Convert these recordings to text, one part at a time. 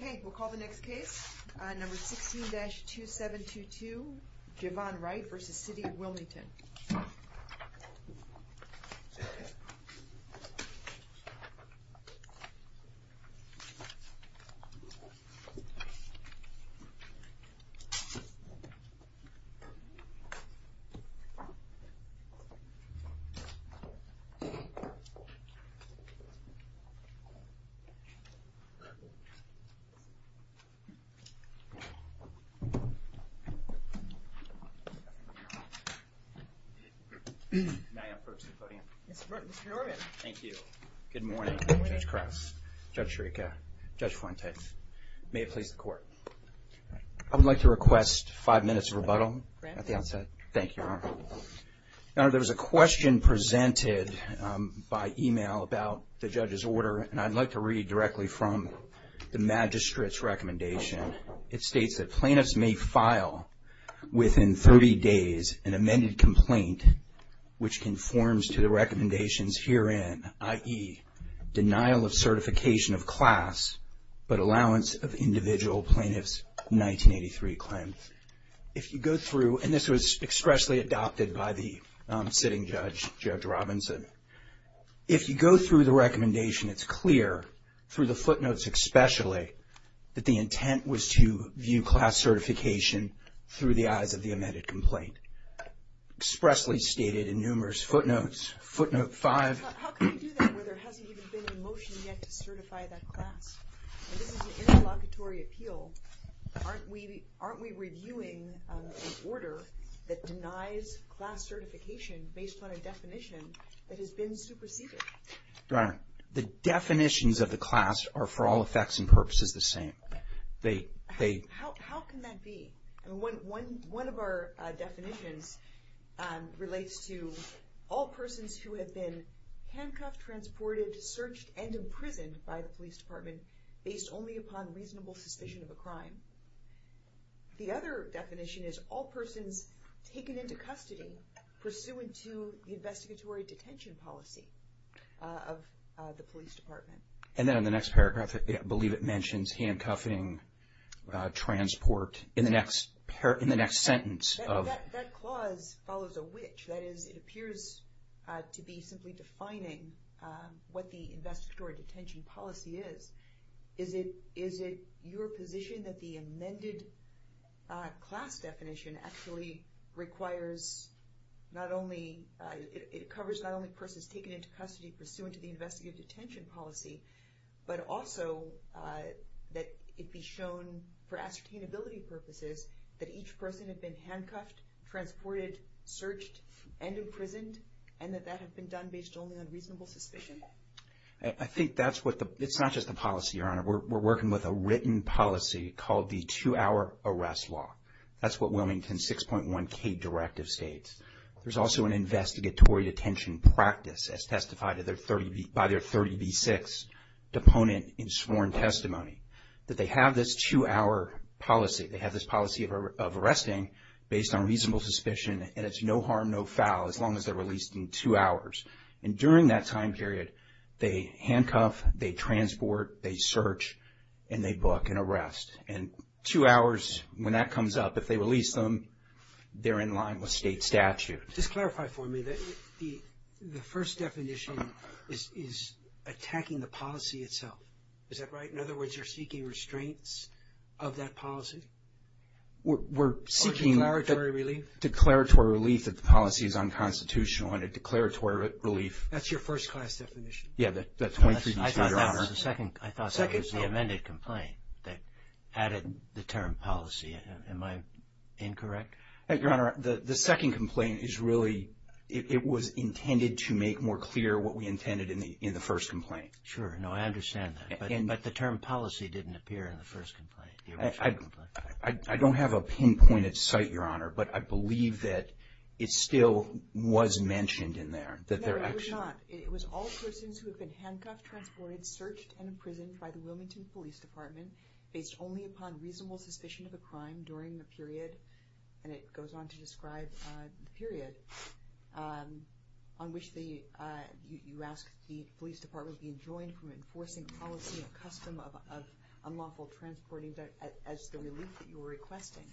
Okay, we'll call the next case. Number 16-2722, Javon Wright v. City of Wilmington. May I approach the podium? Mr. Norman. Thank you. Good morning, Judge Krause, Judge Shurica, Judge Fuentes. May it please the Court. I would like to request five minutes of rebuttal at the outset. Thank you, Your Honor. Your Honor, there was a question presented by email about the judge's order, and I'd like to read directly from the magistrate's recommendation. It states that plaintiffs may file within 30 days an amended complaint which conforms to the recommendations herein, i.e., denial of certification of class but allowance of individual plaintiffs 1983 claim. If you go through, and this was expressly adopted by the sitting judge, Judge Robinson, if you go through the recommendation, it's clear through the footnotes especially that the intent was to view class certification through the eyes of the amended complaint, expressly stated in numerous footnotes, footnote 5. How can you do that where there hasn't even been a motion yet to certify that class? This is a class certification based on a definition that has been superseded. Your Honor, the definitions of the class are for all effects and purposes the same. How can that be? One of our definitions relates to all persons who have been handcuffed, transported, searched, and imprisoned by the police department based only upon reasonable suspicion of a crime. The other definition is all persons taken into custody pursuant to the investigatory detention policy of the police department. And then on the next paragraph, I believe it mentions handcuffing, transport, in the next sentence of... That clause follows a which. That is, it appears to be simply defining what the investigatory definition, that the amended class definition actually requires not only... It covers not only persons taken into custody pursuant to the investigative detention policy, but also that it be shown for ascertainability purposes that each person had been handcuffed, transported, searched, and imprisoned, and that that had been done based only on reasonable suspicion. I think that's what the... It's not just the policy, Your Honor. We're working with a written policy called the two-hour arrest law. That's what Wilmington 6.1k directive states. There's also an investigatory detention practice as testified by their 30b6 deponent in sworn testimony, that they have this two-hour policy. They have this policy of arresting based on reasonable suspicion, and it's no harm, no foul as long as they're released in two hours. During that time period, they handcuff, they transport, they search, and they book an arrest. Two hours, when that comes up, if they release them, they're in line with state statute. Just clarify for me that the first definition is attacking the policy itself. Is that right? In other words, you're seeking restraints of that policy? We're seeking... Or declaratory relief. Declaratory relief that the policy is unconstitutional and a declaratory relief. That's your first class definition? Yeah, that 23b6, Your Honor. I thought that was the second. I thought that was the amended complaint that added the term policy. Am I incorrect? Your Honor, the second complaint is really... It was intended to make more clear what we intended in the first complaint. Sure. No, I understand that, but the term policy didn't appear in the first complaint. I don't have a pinpointed site, Your Honor, but I believe that it still was mentioned in there. No, it was not. It was all persons who have been handcuffed, transported, searched, and imprisoned by the Wilmington Police Department based only upon reasonable suspicion of a crime during the period, and it goes on to describe the period on which you ask the police department to be adjoined for enforcing policy accustomed of unlawful transporting as the relief that you were requesting.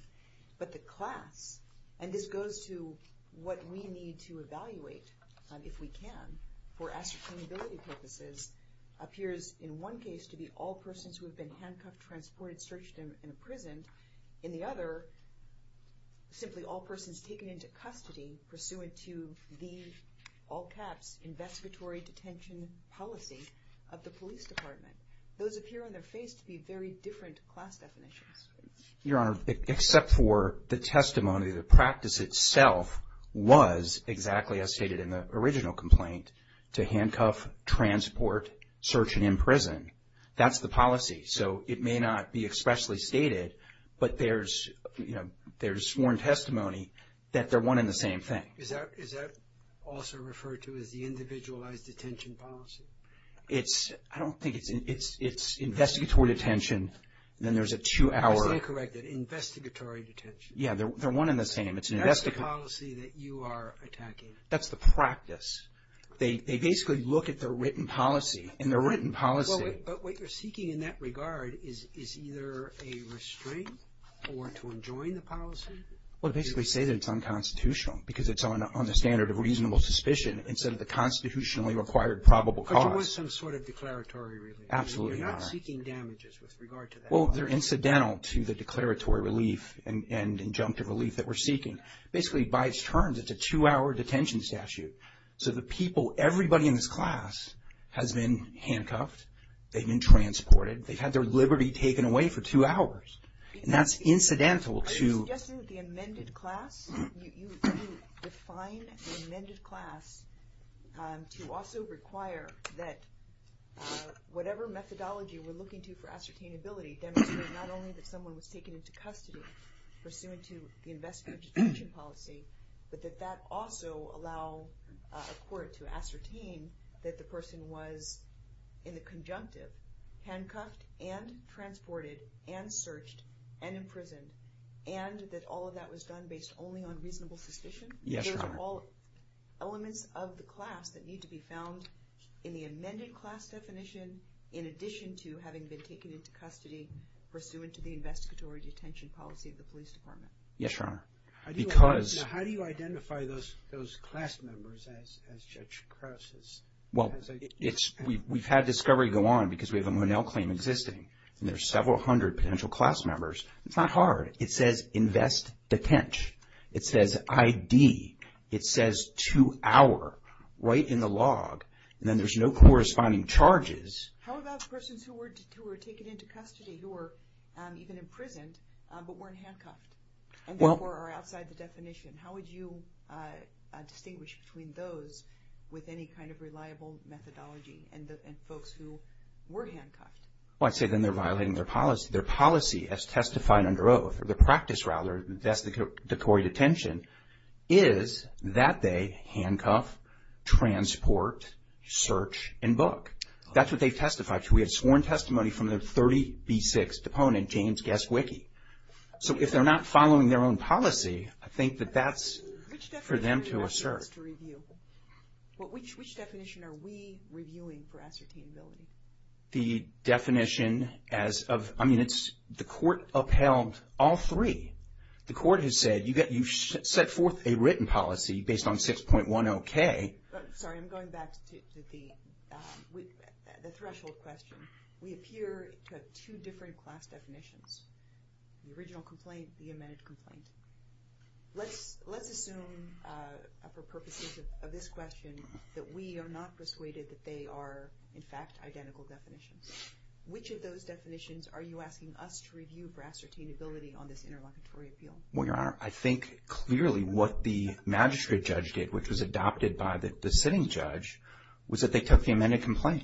But the class, and this goes to what we need to evaluate if we can, for ascertainability purposes, appears in one case to be all persons who have been handcuffed, transported, searched, and imprisoned. In the other, simply all persons taken into custody pursuant to the, all caps, investigatory detention policy of the police department. Those appear on their face to be very different class definitions. Your Honor, except for the testimony, the practice itself was exactly as stated in the original complaint to handcuff, transport, search, and imprison. That's the policy, so it may not be the same thing. Is that also referred to as the individualized detention policy? It's, I don't think it's, it's investigatory detention, then there's a two-hour. I was going to correct it, investigatory detention. Yeah, they're one in the same. That's the policy that you are attacking. That's the practice. They basically look at their written policy, and their written policy. But what you're seeking in that regard is either a restraint or to enjoin the policy? Well, to basically say that it's unconstitutional, because it's on the standard of reasonable suspicion instead of the constitutionally required probable cause. But you want some sort of declaratory relief. Absolutely, Your Honor. You're not seeking damages with regard to that. Well, they're incidental to the declaratory relief and injunctive relief that we're seeking. Basically, by its terms, it's a two-hour detention statute. So the people, everybody in this class has been handcuffed, they've been transported, they've had their liberty taken away for two hours. That's incidental to... Are you suggesting that the amended class, you define the amended class to also require that whatever methodology we're looking to for ascertainability demonstrate not only that someone was taken into custody pursuant to the investigatory detention policy, but that that also allow a court to ascertain that the person was, in the conjunctive, handcuffed and transported and searched and imprisoned, and that all of that was done based only on reasonable suspicion? Yes, Your Honor. Those are all elements of the class that need to be found in the amended class definition in addition to having been taken into custody pursuant to the investigatory detention policy of the police department? Yes, Your Honor. Because... Now, how do you identify those class members as Judge Krause's? Well, we've had discovery go on because we have a Monell claim existing, and there's several hundred potential class members. It's not hard. It says, invest, detention. It says, ID. It says, two-hour, right in the log, and then there's no corresponding charges. How about persons who were taken into custody, who were even imprisoned, but weren't handcuffed, and therefore are outside the definition? How would you distinguish between those with any kind of reliable methodology and folks who were handcuffed? Well, I'd say then they're violating their policy. Their policy as testified under oath, or the practice, rather, of investigatory detention, is that they handcuff, transport, search, and book. That's what they've testified to. We have sworn testimony from the 30B6 opponent, James Gasquicky. So, if they're not following their own policy, I think that that's for them to assert. Which definition are we reviewing for ascertainability? The definition as of... I mean, the court upheld all three. The court has said, you set forth a written policy based on 6.10K. Sorry, I'm going back to the threshold question. We appear to have two different class definitions. The original complaint, the amended complaint. Let's assume, for purposes of this question, that we are not persuaded that they are, in fact, identical definitions. Which of those definitions are you asking us to review for ascertainability on this interlocutory appeal? Well, Your Honor, I think, clearly, what the magistrate judge did, which was adopted by the sitting judge, was that they took the amended complaint.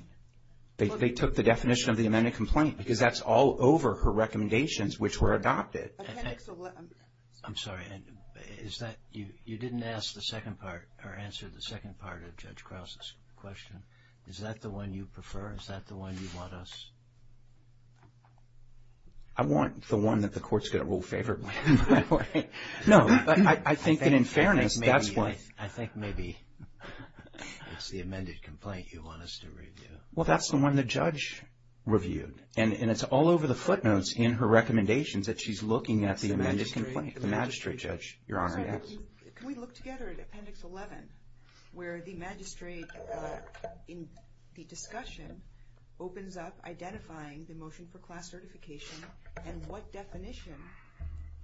They took the definition of the amended complaint, because that's all over her recommendations, which were adopted. I'm sorry. You didn't ask the second part, or answer the second part of Judge Krause's question. Is that the one you prefer? Is that the one you want us... I want the one that the court's going to rule favorably, by the way. No, I think that in fairness, that's what... I think maybe it's the amended complaint you want us to review. Well, that's the one the judge reviewed. And it's all over the footnotes in her recommendations that she's looking at the amended complaint. The magistrate judge, Your Honor, yes. Can we look together at Appendix 11, where the magistrate, in the discussion, opens up identifying the motion for class certification and what definition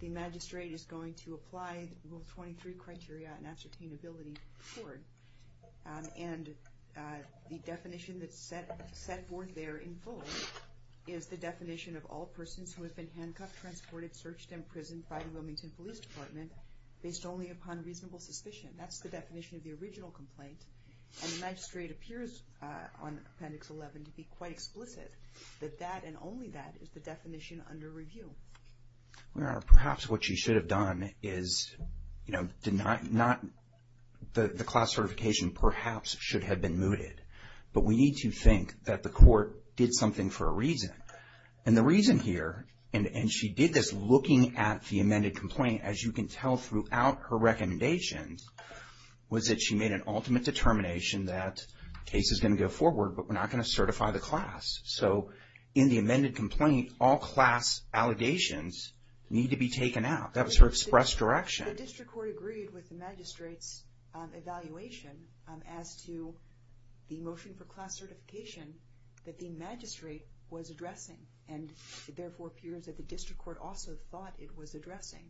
the magistrate is going to apply Rule 23 criteria and ascertainability toward. And the definition that's set forth there in full is the definition of all persons who have been handcuffed, transported, searched, and imprisoned by the Wilmington Police Department, based only upon reasonable suspicion. That's the definition of the original complaint. And the magistrate appears, on Appendix 11, to be quite explicit that that and only that is the definition under review. Your Honor, perhaps what you should have done is, you know, did not... the class certification perhaps should have been mooted. But we need to think that the court did something for a reason. And the reason here, and she did this looking at the amended complaint, as you can tell throughout her recommendations, was that she made an ultimate determination that case is going to go forward, but we're not going to certify the class. So in the amended complaint, all class allegations need to be taken out. That was her express direction. The district court agreed with the magistrate's evaluation as to the motion for class certification that the magistrate was addressing. And it therefore appears that the district court also thought it was addressing.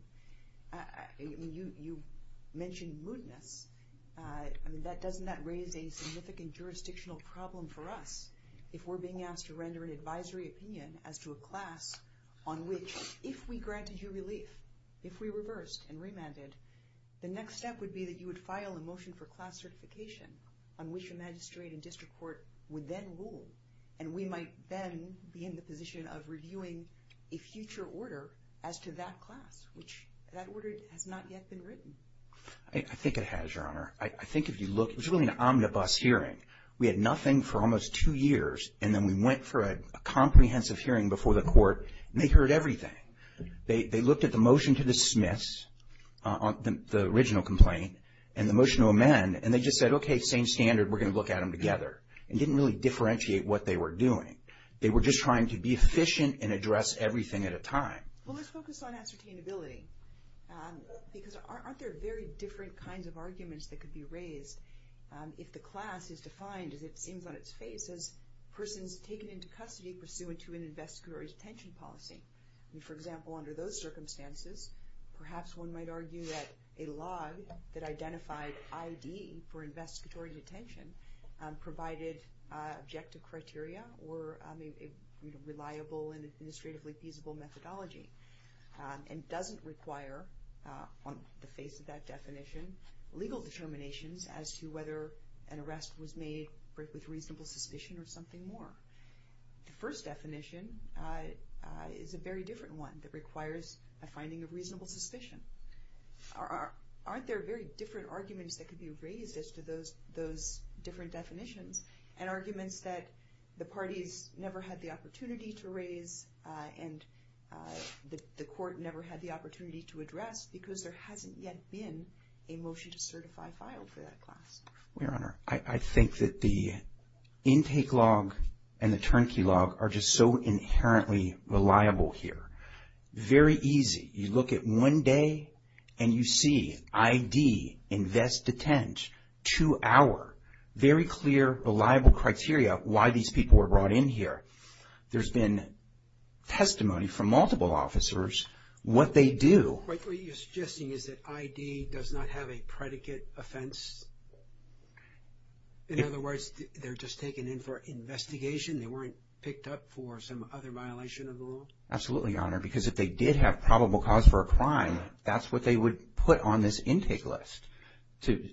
I mean, you mentioned mootness. I mean, doesn't that raise a significant jurisdictional problem for us if we're being asked to render an advisory opinion as to a class on which, if we granted you relief, if we reversed and remanded, the next step would be that you would file a motion for class certification on which a magistrate and district court would then rule. And we might then be in the position of reviewing a future order as to that class, which that order has not yet been written. I think it has, Your Honor. I think if you look, it was really an omnibus hearing. We had nothing for almost two years, and then we went for a comprehensive hearing before the court, and they heard everything. They looked at the motion to dismiss the original complaint and the motion to amend, and they just said, okay, same standard, we're going to look at them together. It didn't really differentiate what they were doing. They were just trying to be efficient and address everything at a time. Well, let's focus on ascertainability because aren't there very different kinds of arguments that could be raised if the class is defined, as it seems on its face, as persons taken into custody pursuant to an investigatory detention policy? I mean, for example, under those circumstances, perhaps one might argue that a law that identified ID for investigatory detention provided objective or a reliable and administratively feasible methodology and doesn't require, on the face of that definition, legal determinations as to whether an arrest was made with reasonable suspicion or something more. The first definition is a very different one that requires a finding of reasonable suspicion. Aren't there very different arguments that could be raised as to those different definitions and arguments that the parties never had the opportunity to raise and the court never had the opportunity to address because there hasn't yet been a motion to certify filed for that class? Well, Your Honor, I think that the intake log and the turnkey log are just so inherently reliable here. Very easy. You look at one day and you see ID, invest, detent, two hour. Very clear, reliable criteria why these people were brought in here. There's been testimony from multiple officers what they do. What you're suggesting is that ID does not have a predicate offense? In other words, they're just taken in for investigation. They weren't picked up for some violation of the law? Absolutely, Your Honor, because if they did have probable cause for a crime, that's what they would put on this intake list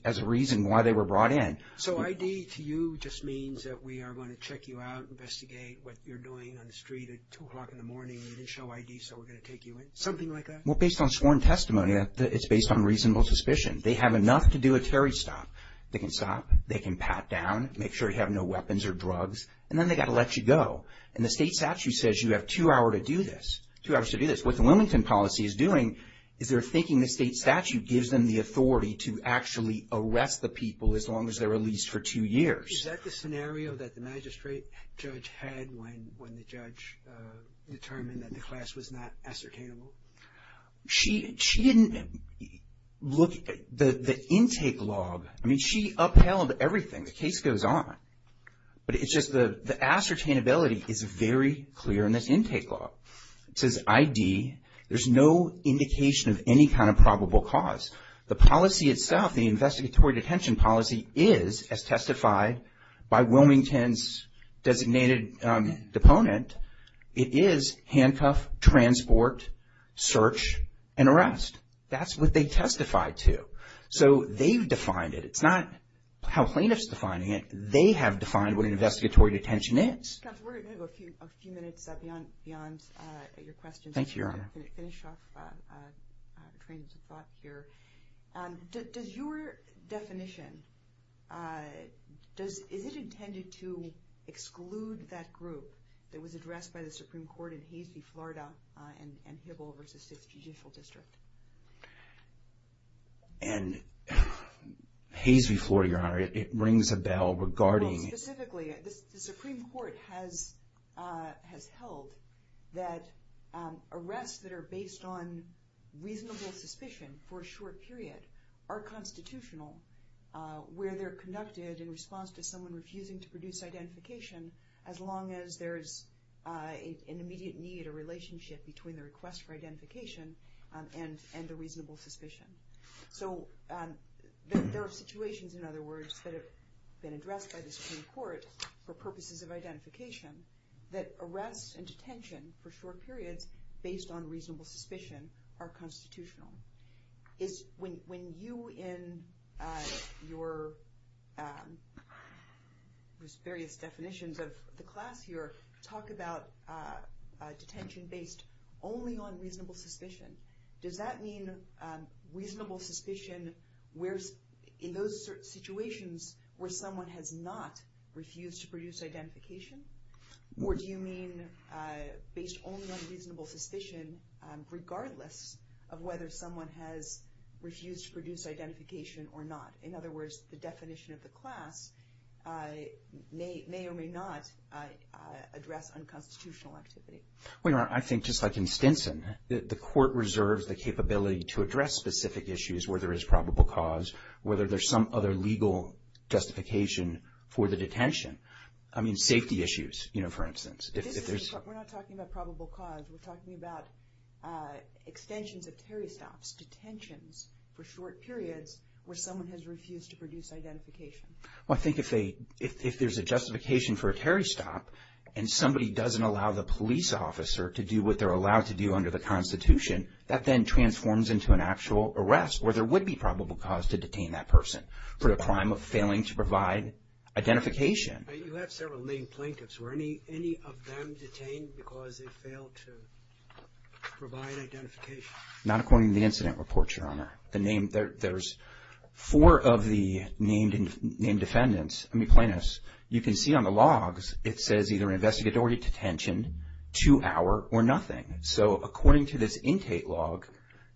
as a reason why they were brought in. So ID to you just means that we are going to check you out, investigate what you're doing on the street at two o'clock in the morning. You didn't show ID, so we're going to take you in. Something like that? Well, based on sworn testimony, it's based on reasonable suspicion. They have enough to do a Terry stop. They can stop, they can pat down, make sure you have no weapons or drugs, and then they say you have two hours to do this. What the Wilmington policy is doing is they're thinking the state statute gives them the authority to actually arrest the people as long as they're released for two years. Is that the scenario that the magistrate judge had when the judge determined that the class was not ascertainable? She didn't look at the intake log. I mean, she upheld everything. The case goes on. But it's just the ascertainability is very clear in this intake log. It says ID. There's no indication of any kind of probable cause. The policy itself, the investigatory detention policy is, as testified by Wilmington's designated deponent, it is handcuff, transport, search, and arrest. That's what they testified to. So they've defined it. It's not how plaintiffs defining it. They have defined what an investigatory detention is. We're going to go a few minutes beyond your questions. Thank you, Your Honor. I'm going to finish off trains of thought here. Does your definition, is it intended to exclude that group that was addressed by the Supreme Court in Haseby, Florida, and Hibble v. 6th Judicial District? And Haseby, Florida, Your Honor, it rings a bell regarding... Well, specifically, the Supreme Court has held that arrests that are based on reasonable suspicion for a short period are constitutional where they're conducted in response to someone refusing to produce identification as long as there's an immediate need or relationship between the request for identification and the reasonable suspicion. So there are situations, in other words, that have been addressed by the Supreme Court for purposes of identification that arrests and detention for short periods based on reasonable suspicion are constitutional. When you, in your various definitions of the class here, talk about detention based only on reasonable suspicion, does that mean reasonable suspicion in those situations where someone has not refused to produce identification? Or do you mean based only on reasonable suspicion regardless of whether someone has refused to produce identification or not? In other words, the definition of the class may or may not address unconstitutional activity. Well, Your Honor, I think just like in Stinson, the court reserves the capability to address specific issues where there is probable cause, whether there's some other legal justification for the detention. I mean, safety issues, you know, for instance, if there's... We're not talking about probable cause. We're talking about extensions of Terry stops, detentions for short periods where someone has refused to produce identification. Well, I think if there's a justification for a Terry stop and somebody doesn't allow the police officer to do what they're allowed to do under the Constitution, that then transforms into an actual arrest where there would be probable cause to detain that person for the crime of failing to provide identification. You have several named plaintiffs. Were any of them detained because they failed to provide identification? Not according to the incident report, Your Honor. The name... There's four of the named defendants, I mean, plaintiffs. You can see on the logs, it says either investigatory detention, two hour, or nothing. So according to this intake log,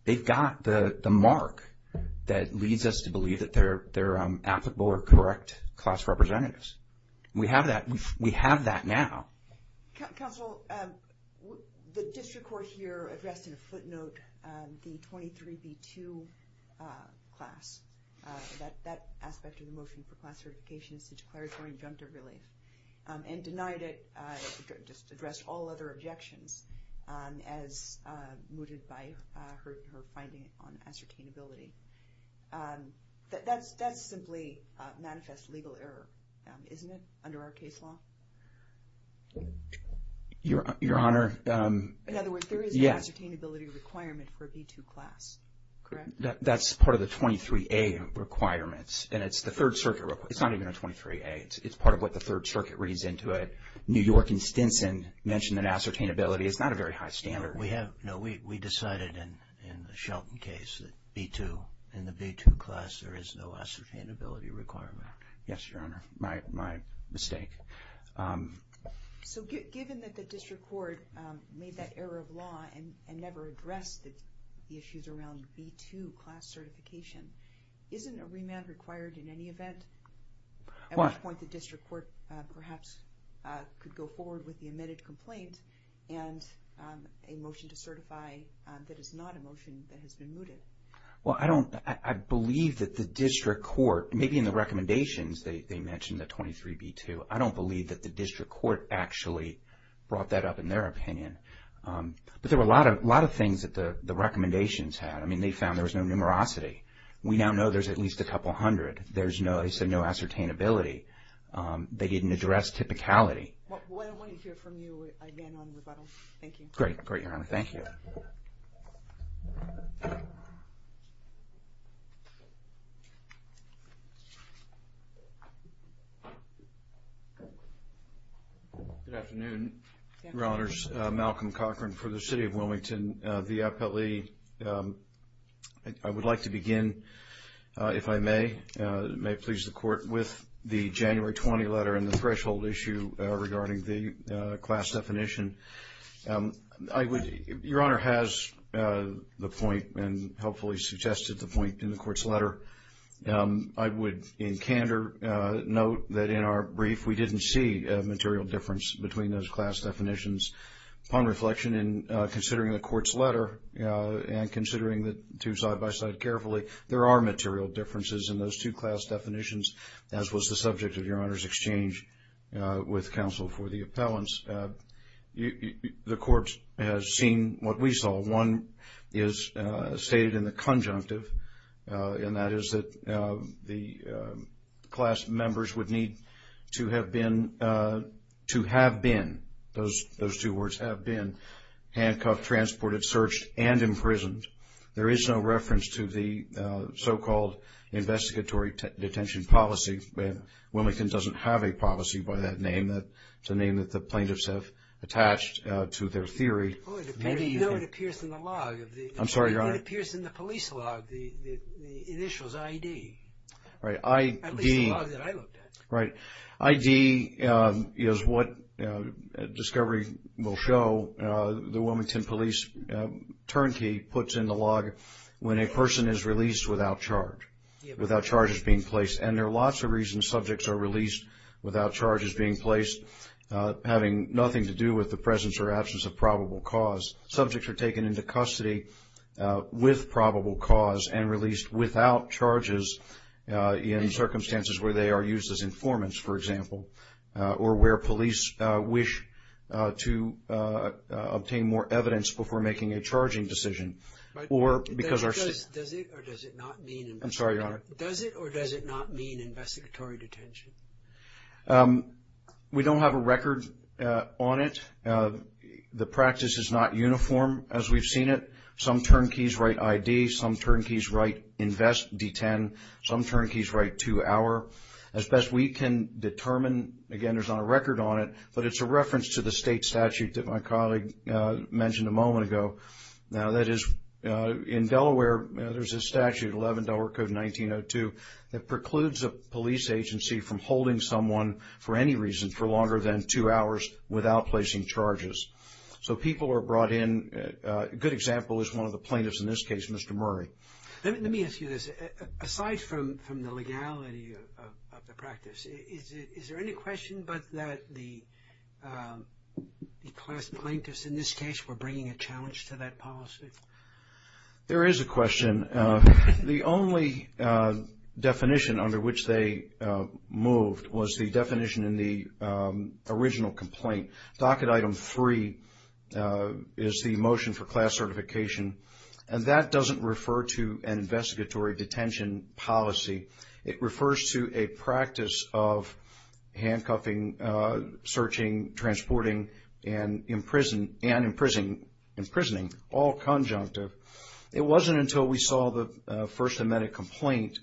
they've got the mark that leads us to believe that they're applicable or correct class representatives. We have that. We have that now. Counsel, the district court here addressed in a footnote the 23B2 class, that aspect of the motion for class certifications to declaratory injunctive relief and denied it, just addressed all other objections as mooted by her finding on ascertainability. That's simply manifest legal error, isn't it, under our case law? Your Honor... In other words, there is an ascertainability requirement for a B2 class, correct? That's part of the 23A requirements. And it's the Third Circuit... It's not even a 23A. It's part of what the Third Circuit reads into it. New York and Stinson mentioned that ascertainability. It's not a very high standard. We have... No, we decided in the Shelton case that B2, in the B2 class, there is no ascertainability requirement. Yes, Your Honor, my mistake. So given that the district court made that error of law and never addressed the issues around B2 class certification, isn't a remand required in any event at which point the district court perhaps could go forward with the admitted complaint and a motion to certify that is not a motion that has been mooted? Well, I don't... I believe that the district court, maybe in the recommendations, they mentioned the 23B2. I don't believe that the district court actually brought that up in their opinion. But there were a lot of things that the recommendations had. I mean, they found there was no numerosity. We now know there's at least a couple hundred. There's no... They said no ascertainability. They didn't address typicality. Well, I want to hear from you again on rebuttal. Thank you. Great. Great, Your Honor. Thank you. Good afternoon, Your Honors. Malcolm Cochran for the City of Wilmington. The appellee... I would like to begin, if I may, may it please the Court, with the January 20 letter and the threshold issue regarding the class definition. I would... Your Honor has the point and hopefully suggested the point in the Court's letter. I would in candor note that in our brief we didn't see a material difference between those class definitions. Upon reflection and considering the Court's letter and considering the two side by side carefully, there are material differences in those two class definitions, as was the subject of Your Honor's exchange with counsel for the and that is that the class members would need to have been, to have been, those two words, have been handcuffed, transported, searched, and imprisoned. There is no reference to the so-called investigatory detention policy. Wilmington doesn't have a policy by that name. That's a name that the plaintiffs have attached to their theory. Oh, it appears in the law. I'm sorry, Your Honor. It appears in the police law, the initials I.D. Right. I.D. At least the law that I looked at. Right. I.D. is what discovery will show. The Wilmington police turnkey puts in the log when a person is released without charge, without charges being placed. And there are lots of reasons subjects are released without charges being placed, having nothing to do with the with probable cause, and released without charges in circumstances where they are used as informants, for example, or where police wish to obtain more evidence before making a charging decision. But does it or does it not mean... I'm sorry, Your Honor. Does it or does it not mean investigatory detention? Um, we don't have a record on it. The practice is not uniform as we've seen it. Some turnkeys write I.D., some turnkeys write invest D-10, some turnkeys write two-hour. As best we can determine, again, there's not a record on it, but it's a reference to the state statute that my colleague mentioned a moment ago. Now, that is, in Delaware, there's a statute, 11 Delaware Code 1902, that precludes a police agency from holding someone for any reason for longer than two hours without placing charges. So people are brought in, a good example is one of the plaintiffs in this case, Mr. Murray. Let me ask you this. Aside from the legality of the practice, is there any question but that the class plaintiffs in this case were bringing a challenge to that policy? There is a question. The only definition under which they moved was the definition in the original complaint. Docket item three is the motion for class certification, and that doesn't refer to an investigatory detention policy. It refers to a practice of handcuffing, searching, transporting, and imprisoning, all conjunctive. It wasn't until we saw the first amended complaint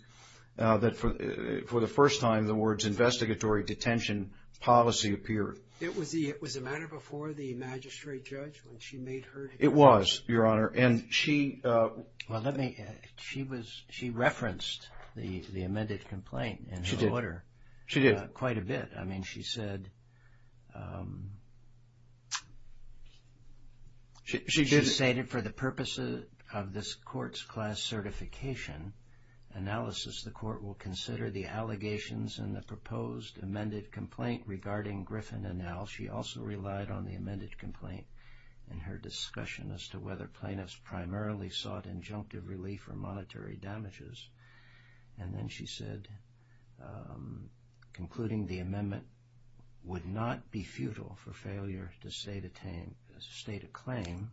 that, for the first time, the words investigatory detention policy appeared. It was a matter before the magistrate judge when she made her... It was, Your Honor, and she... Well, let me... She referenced the amended complaint in her order. She did. She did. She stated, for the purpose of this court's class certification analysis, the court will consider the allegations in the proposed amended complaint regarding Griffin et al. She also relied on the amended complaint in her discussion as to whether plaintiffs primarily sought injunctive relief or would not be futile for failure to state a claim.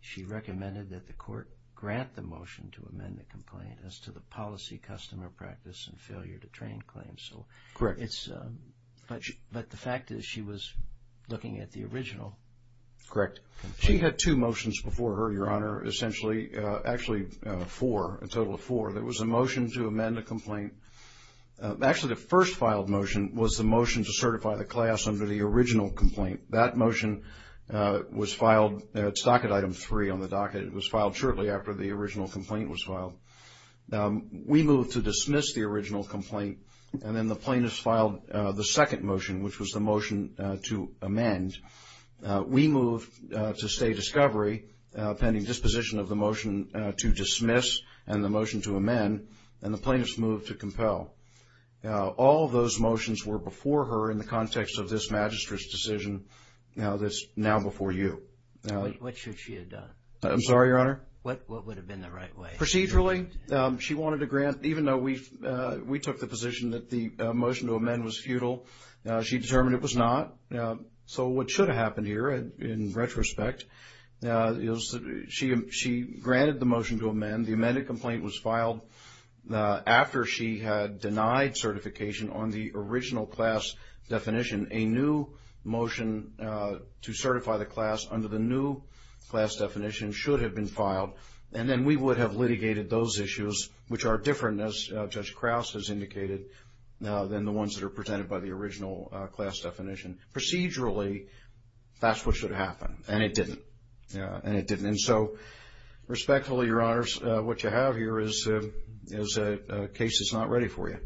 She recommended that the court grant the motion to amend the complaint as to the policy, customer practice, and failure to train claims. So... Correct. But the fact is she was looking at the original complaint. Correct. She had two motions before her, Your Honor, essentially. Actually, four, a total of under the original complaint. That motion was filed... It's docket item three on the docket. It was filed shortly after the original complaint was filed. We moved to dismiss the original complaint, and then the plaintiff filed the second motion, which was the motion to amend. We moved to stay discovery, pending disposition of the motion to dismiss and the motion to amend, and the plaintiff's move to compel. Now, all of those motions were before her in the context of this magistrate's decision. Now, that's now before you. What should she have done? I'm sorry, Your Honor? What would have been the right way? Procedurally, she wanted to grant, even though we took the position that the motion to amend was futile, she determined it was not. So what should have happened here in retrospect is that she granted the motion to amend. The amended complaint was filed after she had denied certification on the original class definition. A new motion to certify the class under the new class definition should have been filed, and then we would have litigated those issues, which are different, as Judge Krause has indicated, than the ones that are presented by the original class definition. Procedurally, that's what should have happened, and it didn't, and it didn't. And so, respectfully, Your Honors, what you have here is a case that's not ready for you,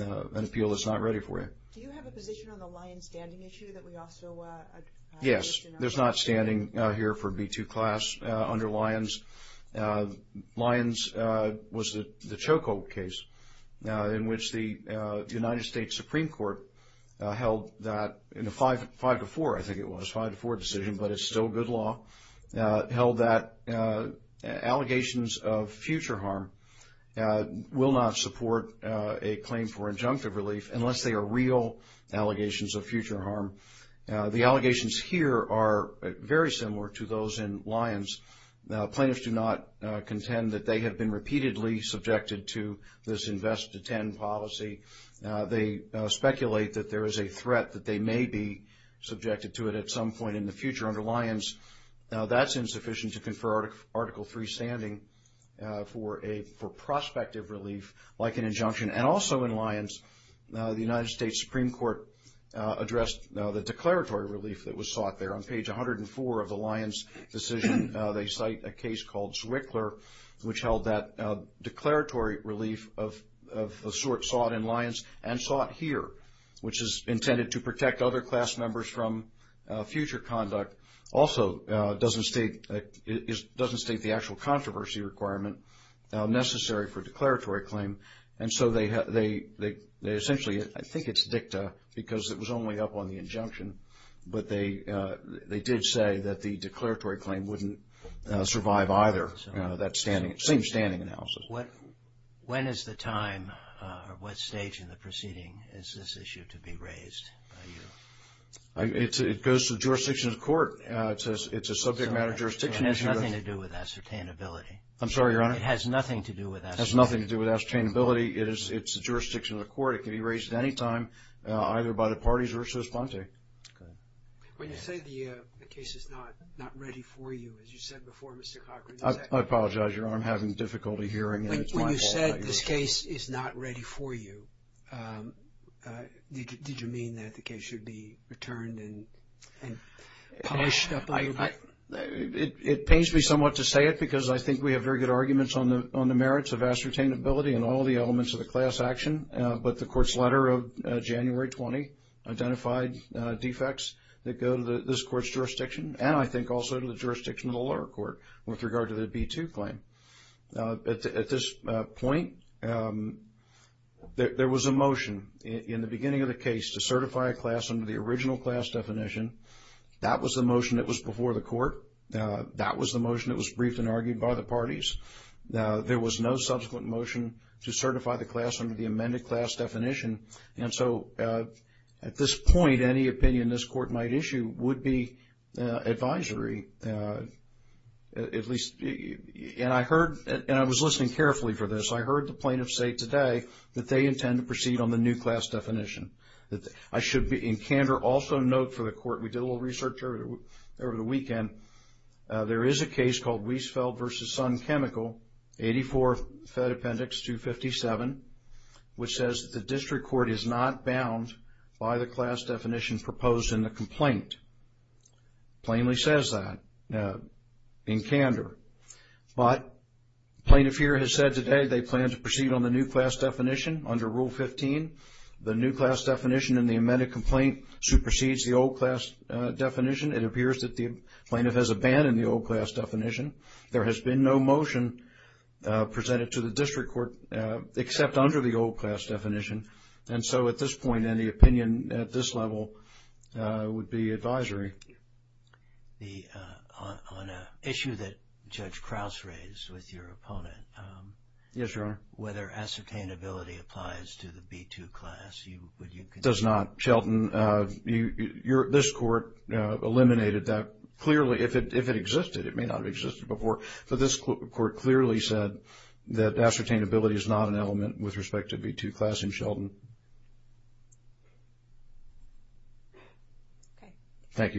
an appeal that's not ready for you. Do you have a position on the Lyons standing issue that we also addressed? Yes. There's not standing here for B-2 class under Lyons. Lyons was the Chokol case in which the United States Supreme Court held that in a 5-4, I think it was, 5-4 decision, but it's good law, held that allegations of future harm will not support a claim for injunctive relief unless they are real allegations of future harm. The allegations here are very similar to those in Lyons. Plaintiffs do not contend that they have been repeatedly subjected to this invest-to-ten policy. They speculate that there is a threat that they may be subjected to it at some point in the future under Lyons. That's insufficient to confer Article III standing for prospective relief like an injunction. And also in Lyons, the United States Supreme Court addressed the declaratory relief that was sought there. On page 104 of the Lyons decision, they cite a case called Zwickler, which held that declaratory relief of the sort sought in Lyons and sought here, which is intended to protect other class members from future conduct, also doesn't state the actual controversy requirement necessary for declaratory claim. And so they essentially, I think it's dicta because it was only up on the injunction, but they did say that the declaratory claim wouldn't survive either, that same standing analysis. When is the time or what stage in the proceeding is this issue to be raised by you? It goes to the jurisdiction of the court. It's a subject matter jurisdiction issue. And it has nothing to do with ascertainability. I'm sorry, Your Honor? It has nothing to do with ascertainability. It has nothing to do with ascertainability. It's a jurisdiction of the court. It can be raised at any time, either by the parties or it's just Plante. When you say the case is not ready for you, as you said before, Mr. Cochran, is that correct? I apologize, Your Honor. I'm having difficulty hearing. When you said this case is not ready for you, did you mean that the case should be returned and published? It pains me somewhat to say it because I think we have very good arguments on the merits of ascertainability and all the elements of the class action. But the court's letter of January 20 identified defects that go to this court's jurisdiction and I think also to the jurisdiction of the lower court with regard to the B-2 claim. At this point, there was a motion in the beginning of the case to certify a class under the original class definition. That was the motion that was before the court. That was the motion that was briefed and argued by the parties. There was no subsequent motion to certify the class under the amended class definition. And so at this point, any opinion this court might issue would be advisory, at least. And I heard, and I was listening carefully for this, I heard the plaintiff say today that they intend to proceed on the new class definition. I should in candor also note for the court, we did a little research over the weekend, there is a case called Wiesfeld v. Sun Chemical, 84 Fed Appendix 257, which says that the district court is not bound by the class definition proposed in the complaint. Plainly says that in candor. But the plaintiff here has said today they plan to proceed on the new class definition under Rule 15. The new class definition in the amended complaint supersedes the old class definition. It appears that the plaintiff has abandoned the old class definition. There has been no motion presented to the district court except under the old class definition. And so at this point, any opinion at this level would be advisory. On an issue that Judge Krause raised with your opponent. Yes, Your Honor. Whether ascertainability applies to the B-2 class. Does not. Shelton, this court eliminated that. Clearly, if it existed, it may not have existed before. So this court clearly said that ascertainability is not an element with respect to B-2 class in Shelton. Can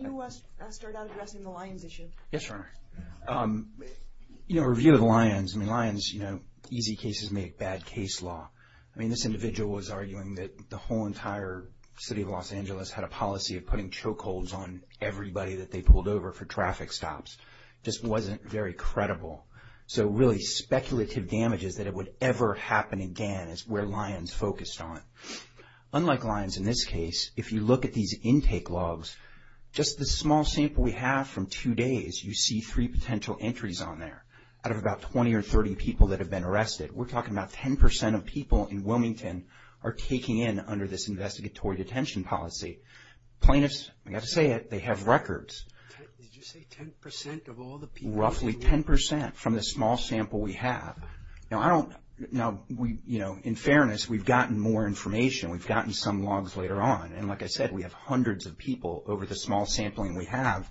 you start out addressing the Lyons issue? Yes, Your Honor. You know, review of the Lyons. I mean, Lyons, you know, easy cases make bad case law. I mean, this individual was arguing that the whole entire city of Los Angeles had a policy of putting choke holds on everybody that they pulled over for traffic stops. Just wasn't very credible. So really, speculative damage is that it would ever happen again is where Lyons focused on. Unlike Lyons, in this case, if you look at these intake logs, just the small sample we have from two days, you see three potential entries on there out of about 20 or 30 people that have been arrested. We're talking about 10 percent of people in Wilmington are taking in under this investigatory detention policy. Plaintiffs, I got to say it, they have records. Did you say 10 percent of all the people? Roughly 10 percent from the small sample we have. Now, I don't know. You know, in fairness, we've gotten more information. We've gotten some logs later on. And like I said, we have hundreds of people over the small sampling we have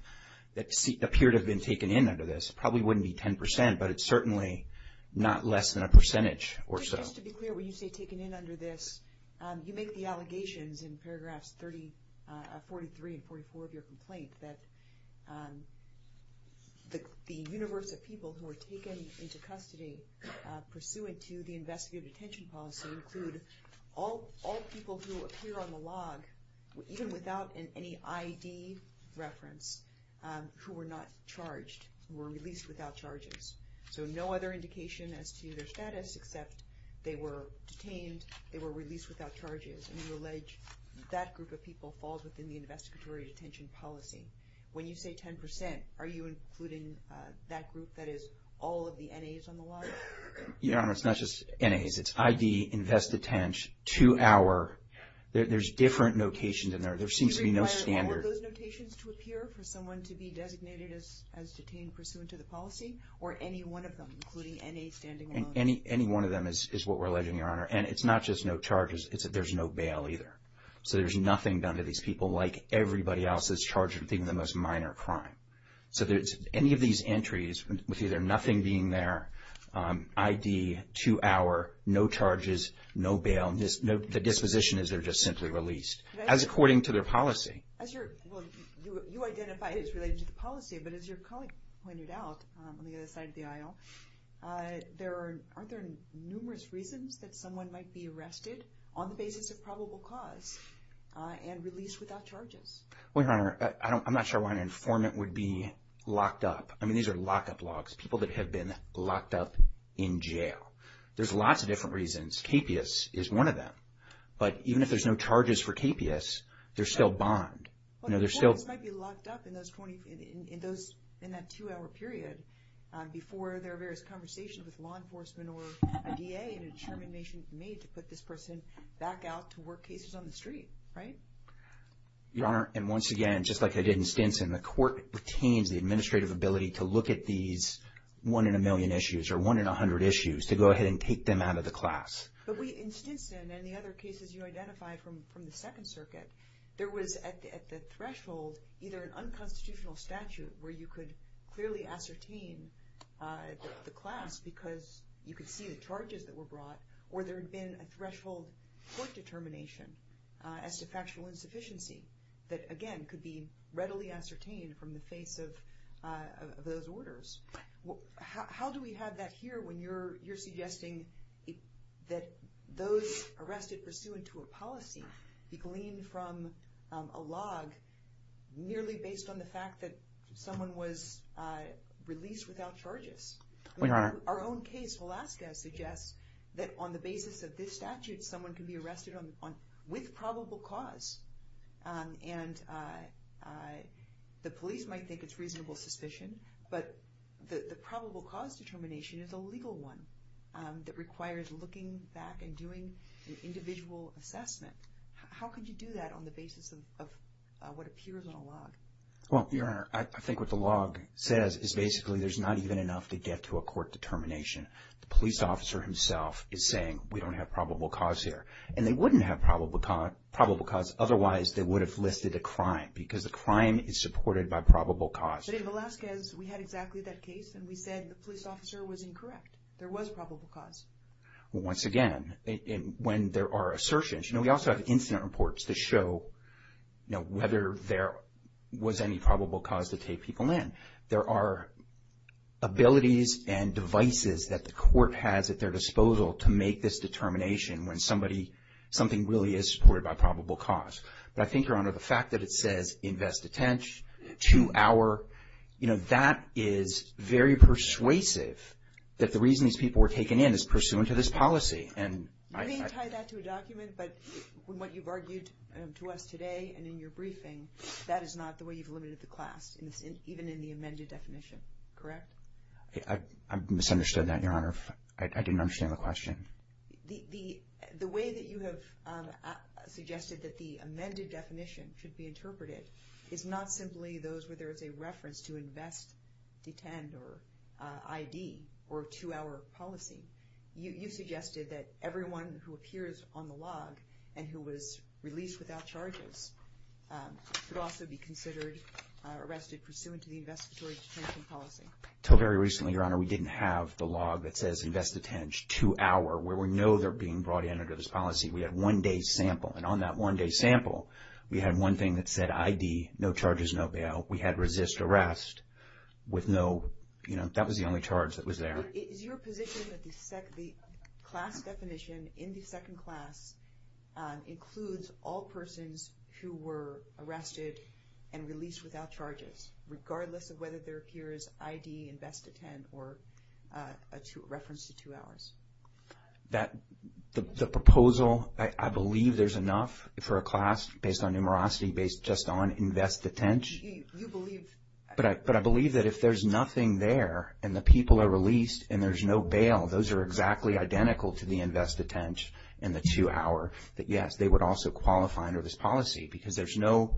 that appear to have been taken in under this. Probably wouldn't be 10 percent, but it's certainly not less than a percentage or so. Just to be clear, when you say under this, you make the allegations in paragraphs 30, 43 and 44 of your complaint that the universe of people who were taken into custody pursuant to the investigative detention policy include all people who appear on the log, even without any ID reference, who were not charged, were released without charges. So no other indication as to their they were released without charges. And you allege that group of people falls within the investigatory detention policy. When you say 10 percent, are you including that group that is all of the N.A.s on the log? Your Honor, it's not just N.A.s. It's ID, invest attention, two-hour. There's different notations in there. There seems to be no standard. Do you require all of those notations to appear for someone to be designated as detained pursuant to the policy or any one of including N.A. standing alone? Any one of them is what we're alleging, Your Honor. And it's not just no charges. It's that there's no bail either. So there's nothing done to these people like everybody else that's charged with being the most minor crime. So any of these entries with either nothing being there, ID, two-hour, no charges, no bail, the disposition is they're just simply released, as according to their policy. You identify it as related to the policy, but as your colleague pointed out on the other side of the aisle, aren't there numerous reasons that someone might be arrested on the basis of probable cause and released without charges? Well, Your Honor, I'm not sure why an informant would be locked up. I mean, these are lockup logs, people that have been locked up in jail. There's lots of different reasons. KPIS is one of them. But even if there's no charges for KPIS, they're still in that two-hour period before there are various conversations with law enforcement or a DA and a determination made to put this person back out to work cases on the street, right? Your Honor, and once again, just like I did in Stinson, the court retains the administrative ability to look at these one in a million issues or one in a hundred issues to go ahead and take them out of the class. But in Stinson and the other cases you identified from the Second Circuit, there was at the threshold either an unconstitutional statute where you could clearly ascertain the class because you could see the charges that were brought, or there had been a threshold court determination as to factual insufficiency that, again, could be readily ascertained from the face of those orders. How do we have that here when you're suggesting that those arrested pursuant to a policy be gleaned from a log nearly based on the fact that someone was released without charges? Our own case, Velazquez, suggests that on the basis of this statute, someone can be arrested with probable cause. And the police might think it's reasonable suspicion, but the probable cause determination is a legal one that requires looking back and doing an individual assessment. How could you do that on the basis of what appears on a log? Well, Your Honor, I think what the log says is basically there's not even enough to get to a court determination. The police officer himself is saying we don't have probable cause here. And they wouldn't have probable cause otherwise they would have listed a crime, because the crime is supported by probable cause. But in Velazquez, we had exactly that case, and we said the police officer was incorrect. There was probable cause. Once again, when there are assertions, you know, we also have incident reports to show, you know, whether there was any probable cause to take people in. There are abilities and devices that the court has at their disposal to make this determination when somebody, something really is by probable cause. But I think, Your Honor, the fact that it says invest attention, two hour, you know, that is very persuasive that the reason these people were taken in is pursuant to this policy. And I mean, tie that to a document. But what you've argued to us today and in your briefing, that is not the way you've limited the class, even in the amended definition, correct? I misunderstood that, Your Honor. I didn't understand the question. The way that you have suggested that the amended definition should be interpreted is not simply those where there is a reference to invest, detain, or ID, or two hour policy. You suggested that everyone who appears on the log and who was released without charges could also be considered arrested pursuant to the investigatory detention policy. Until very recently, Your Honor, we didn't have the log that says invest attention, two hour, where we know they're being brought in under this policy. We had one day sample. And on that one day sample, we had one thing that said ID, no charges, no bail. We had resist arrest with no, you know, that was the only charge that was there. But is your position that the class definition in the second class includes all persons who were arrested and released without charges, regardless of whether there appears ID, invest, detain, or reference to two hours? That the proposal, I believe there's enough for a class based on numerosity, based just on invest detention. You believe? But I believe that if there's nothing there, and the people are released, and there's no bail, those are exactly identical to the invest detention and the two hour, that yes, they would also qualify under this policy. Because there's no,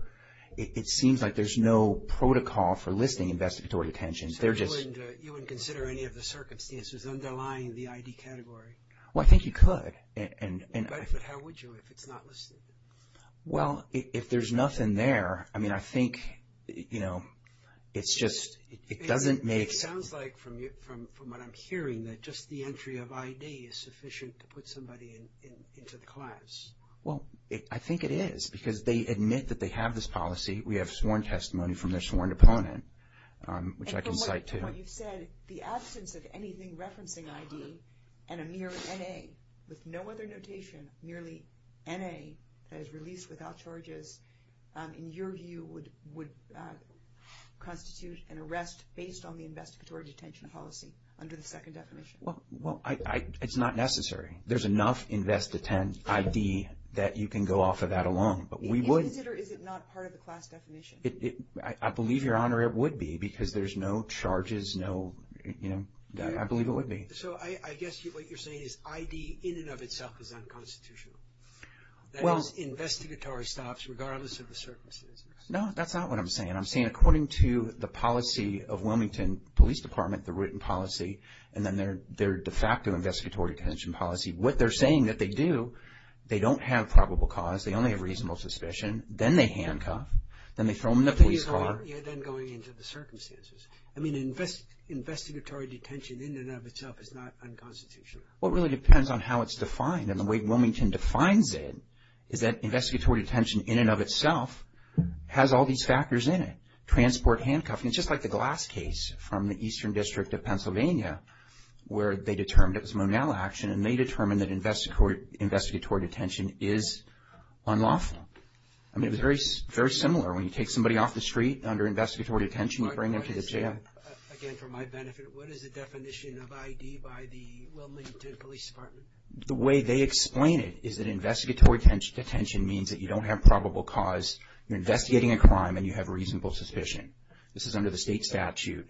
it seems like there's no protocol for listing investigatory attentions. So you wouldn't consider any of the circumstances underlying the ID category? Well, I think you could. But how would you if it's not listed? Well, if there's nothing there, I mean, I think, you know, it's just, it doesn't make sense. It sounds like from what I'm hearing that just the entry of ID is sufficient to put somebody into the class. Well, I think it is because they admit that they have this policy. We have sworn testimony from their sworn opponent, which I can cite to. And from what you've said, the absence of anything referencing ID and a mere NA, with no other notation, merely NA, that is released without charges, in your view, would constitute an arrest based on the investigatory detention policy under the second definition? Well, it's not necessary. There's enough invest detention ID that you can go off of that alone. But we would... Do you consider, is it not part of the class definition? I believe, Your Honor, it would be because there's no charges, no, you know, I believe it would be. So I guess what you're saying is ID in and of itself is unconstitutional. That is, investigatory stops regardless of the circumstances. No, that's not what I'm saying. I'm saying according to the policy of Wilmington Police Department, the written policy, and then their de facto investigatory detention policy, what they're saying that they do, they don't have probable cause, they only have reasonable suspicion, then they handcuff, then they throw them in the police car. You're then going into the circumstances. I mean, investigatory detention in and of itself is not unconstitutional. Well, it really depends on how it's defined. And the way Wilmington defines it is that investigatory detention in and of itself has all these factors in it. Transport, handcuffing, just like the Glass case from the Eastern District of Pennsylvania, where they determined and they determined that investigatory detention is unlawful. I mean, it was very, very similar. When you take somebody off the street under investigatory detention, you bring them to the jail. Again, for my benefit, what is the definition of ID by the Wilmington Police Department? The way they explain it is that investigatory detention means that you don't have probable cause. You're investigating a crime and you have reasonable suspicion. This is under the I do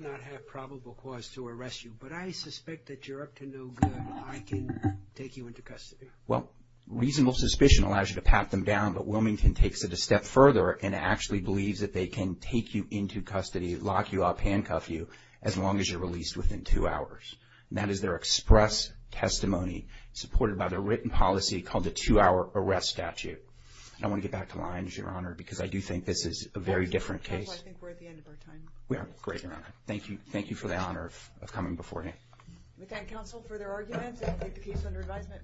not have probable cause to arrest you, but I suspect that you're up to no good. I can take you into custody. Well, reasonable suspicion allows you to pat them down, but Wilmington takes it a step further and actually believes that they can take you into custody, lock you up, handcuff you as long as you're released within two hours. And that is their express testimony supported by their written policy called the two-hour arrest statute. And I want to get back to Lyons, Your Honor, because I do think this is a very different case. I think we're at the end of our time. We are. Great, Your Honor. Thank you. Thank you for the honor of coming before me. We thank counsel for their arguments and take the case under advisement.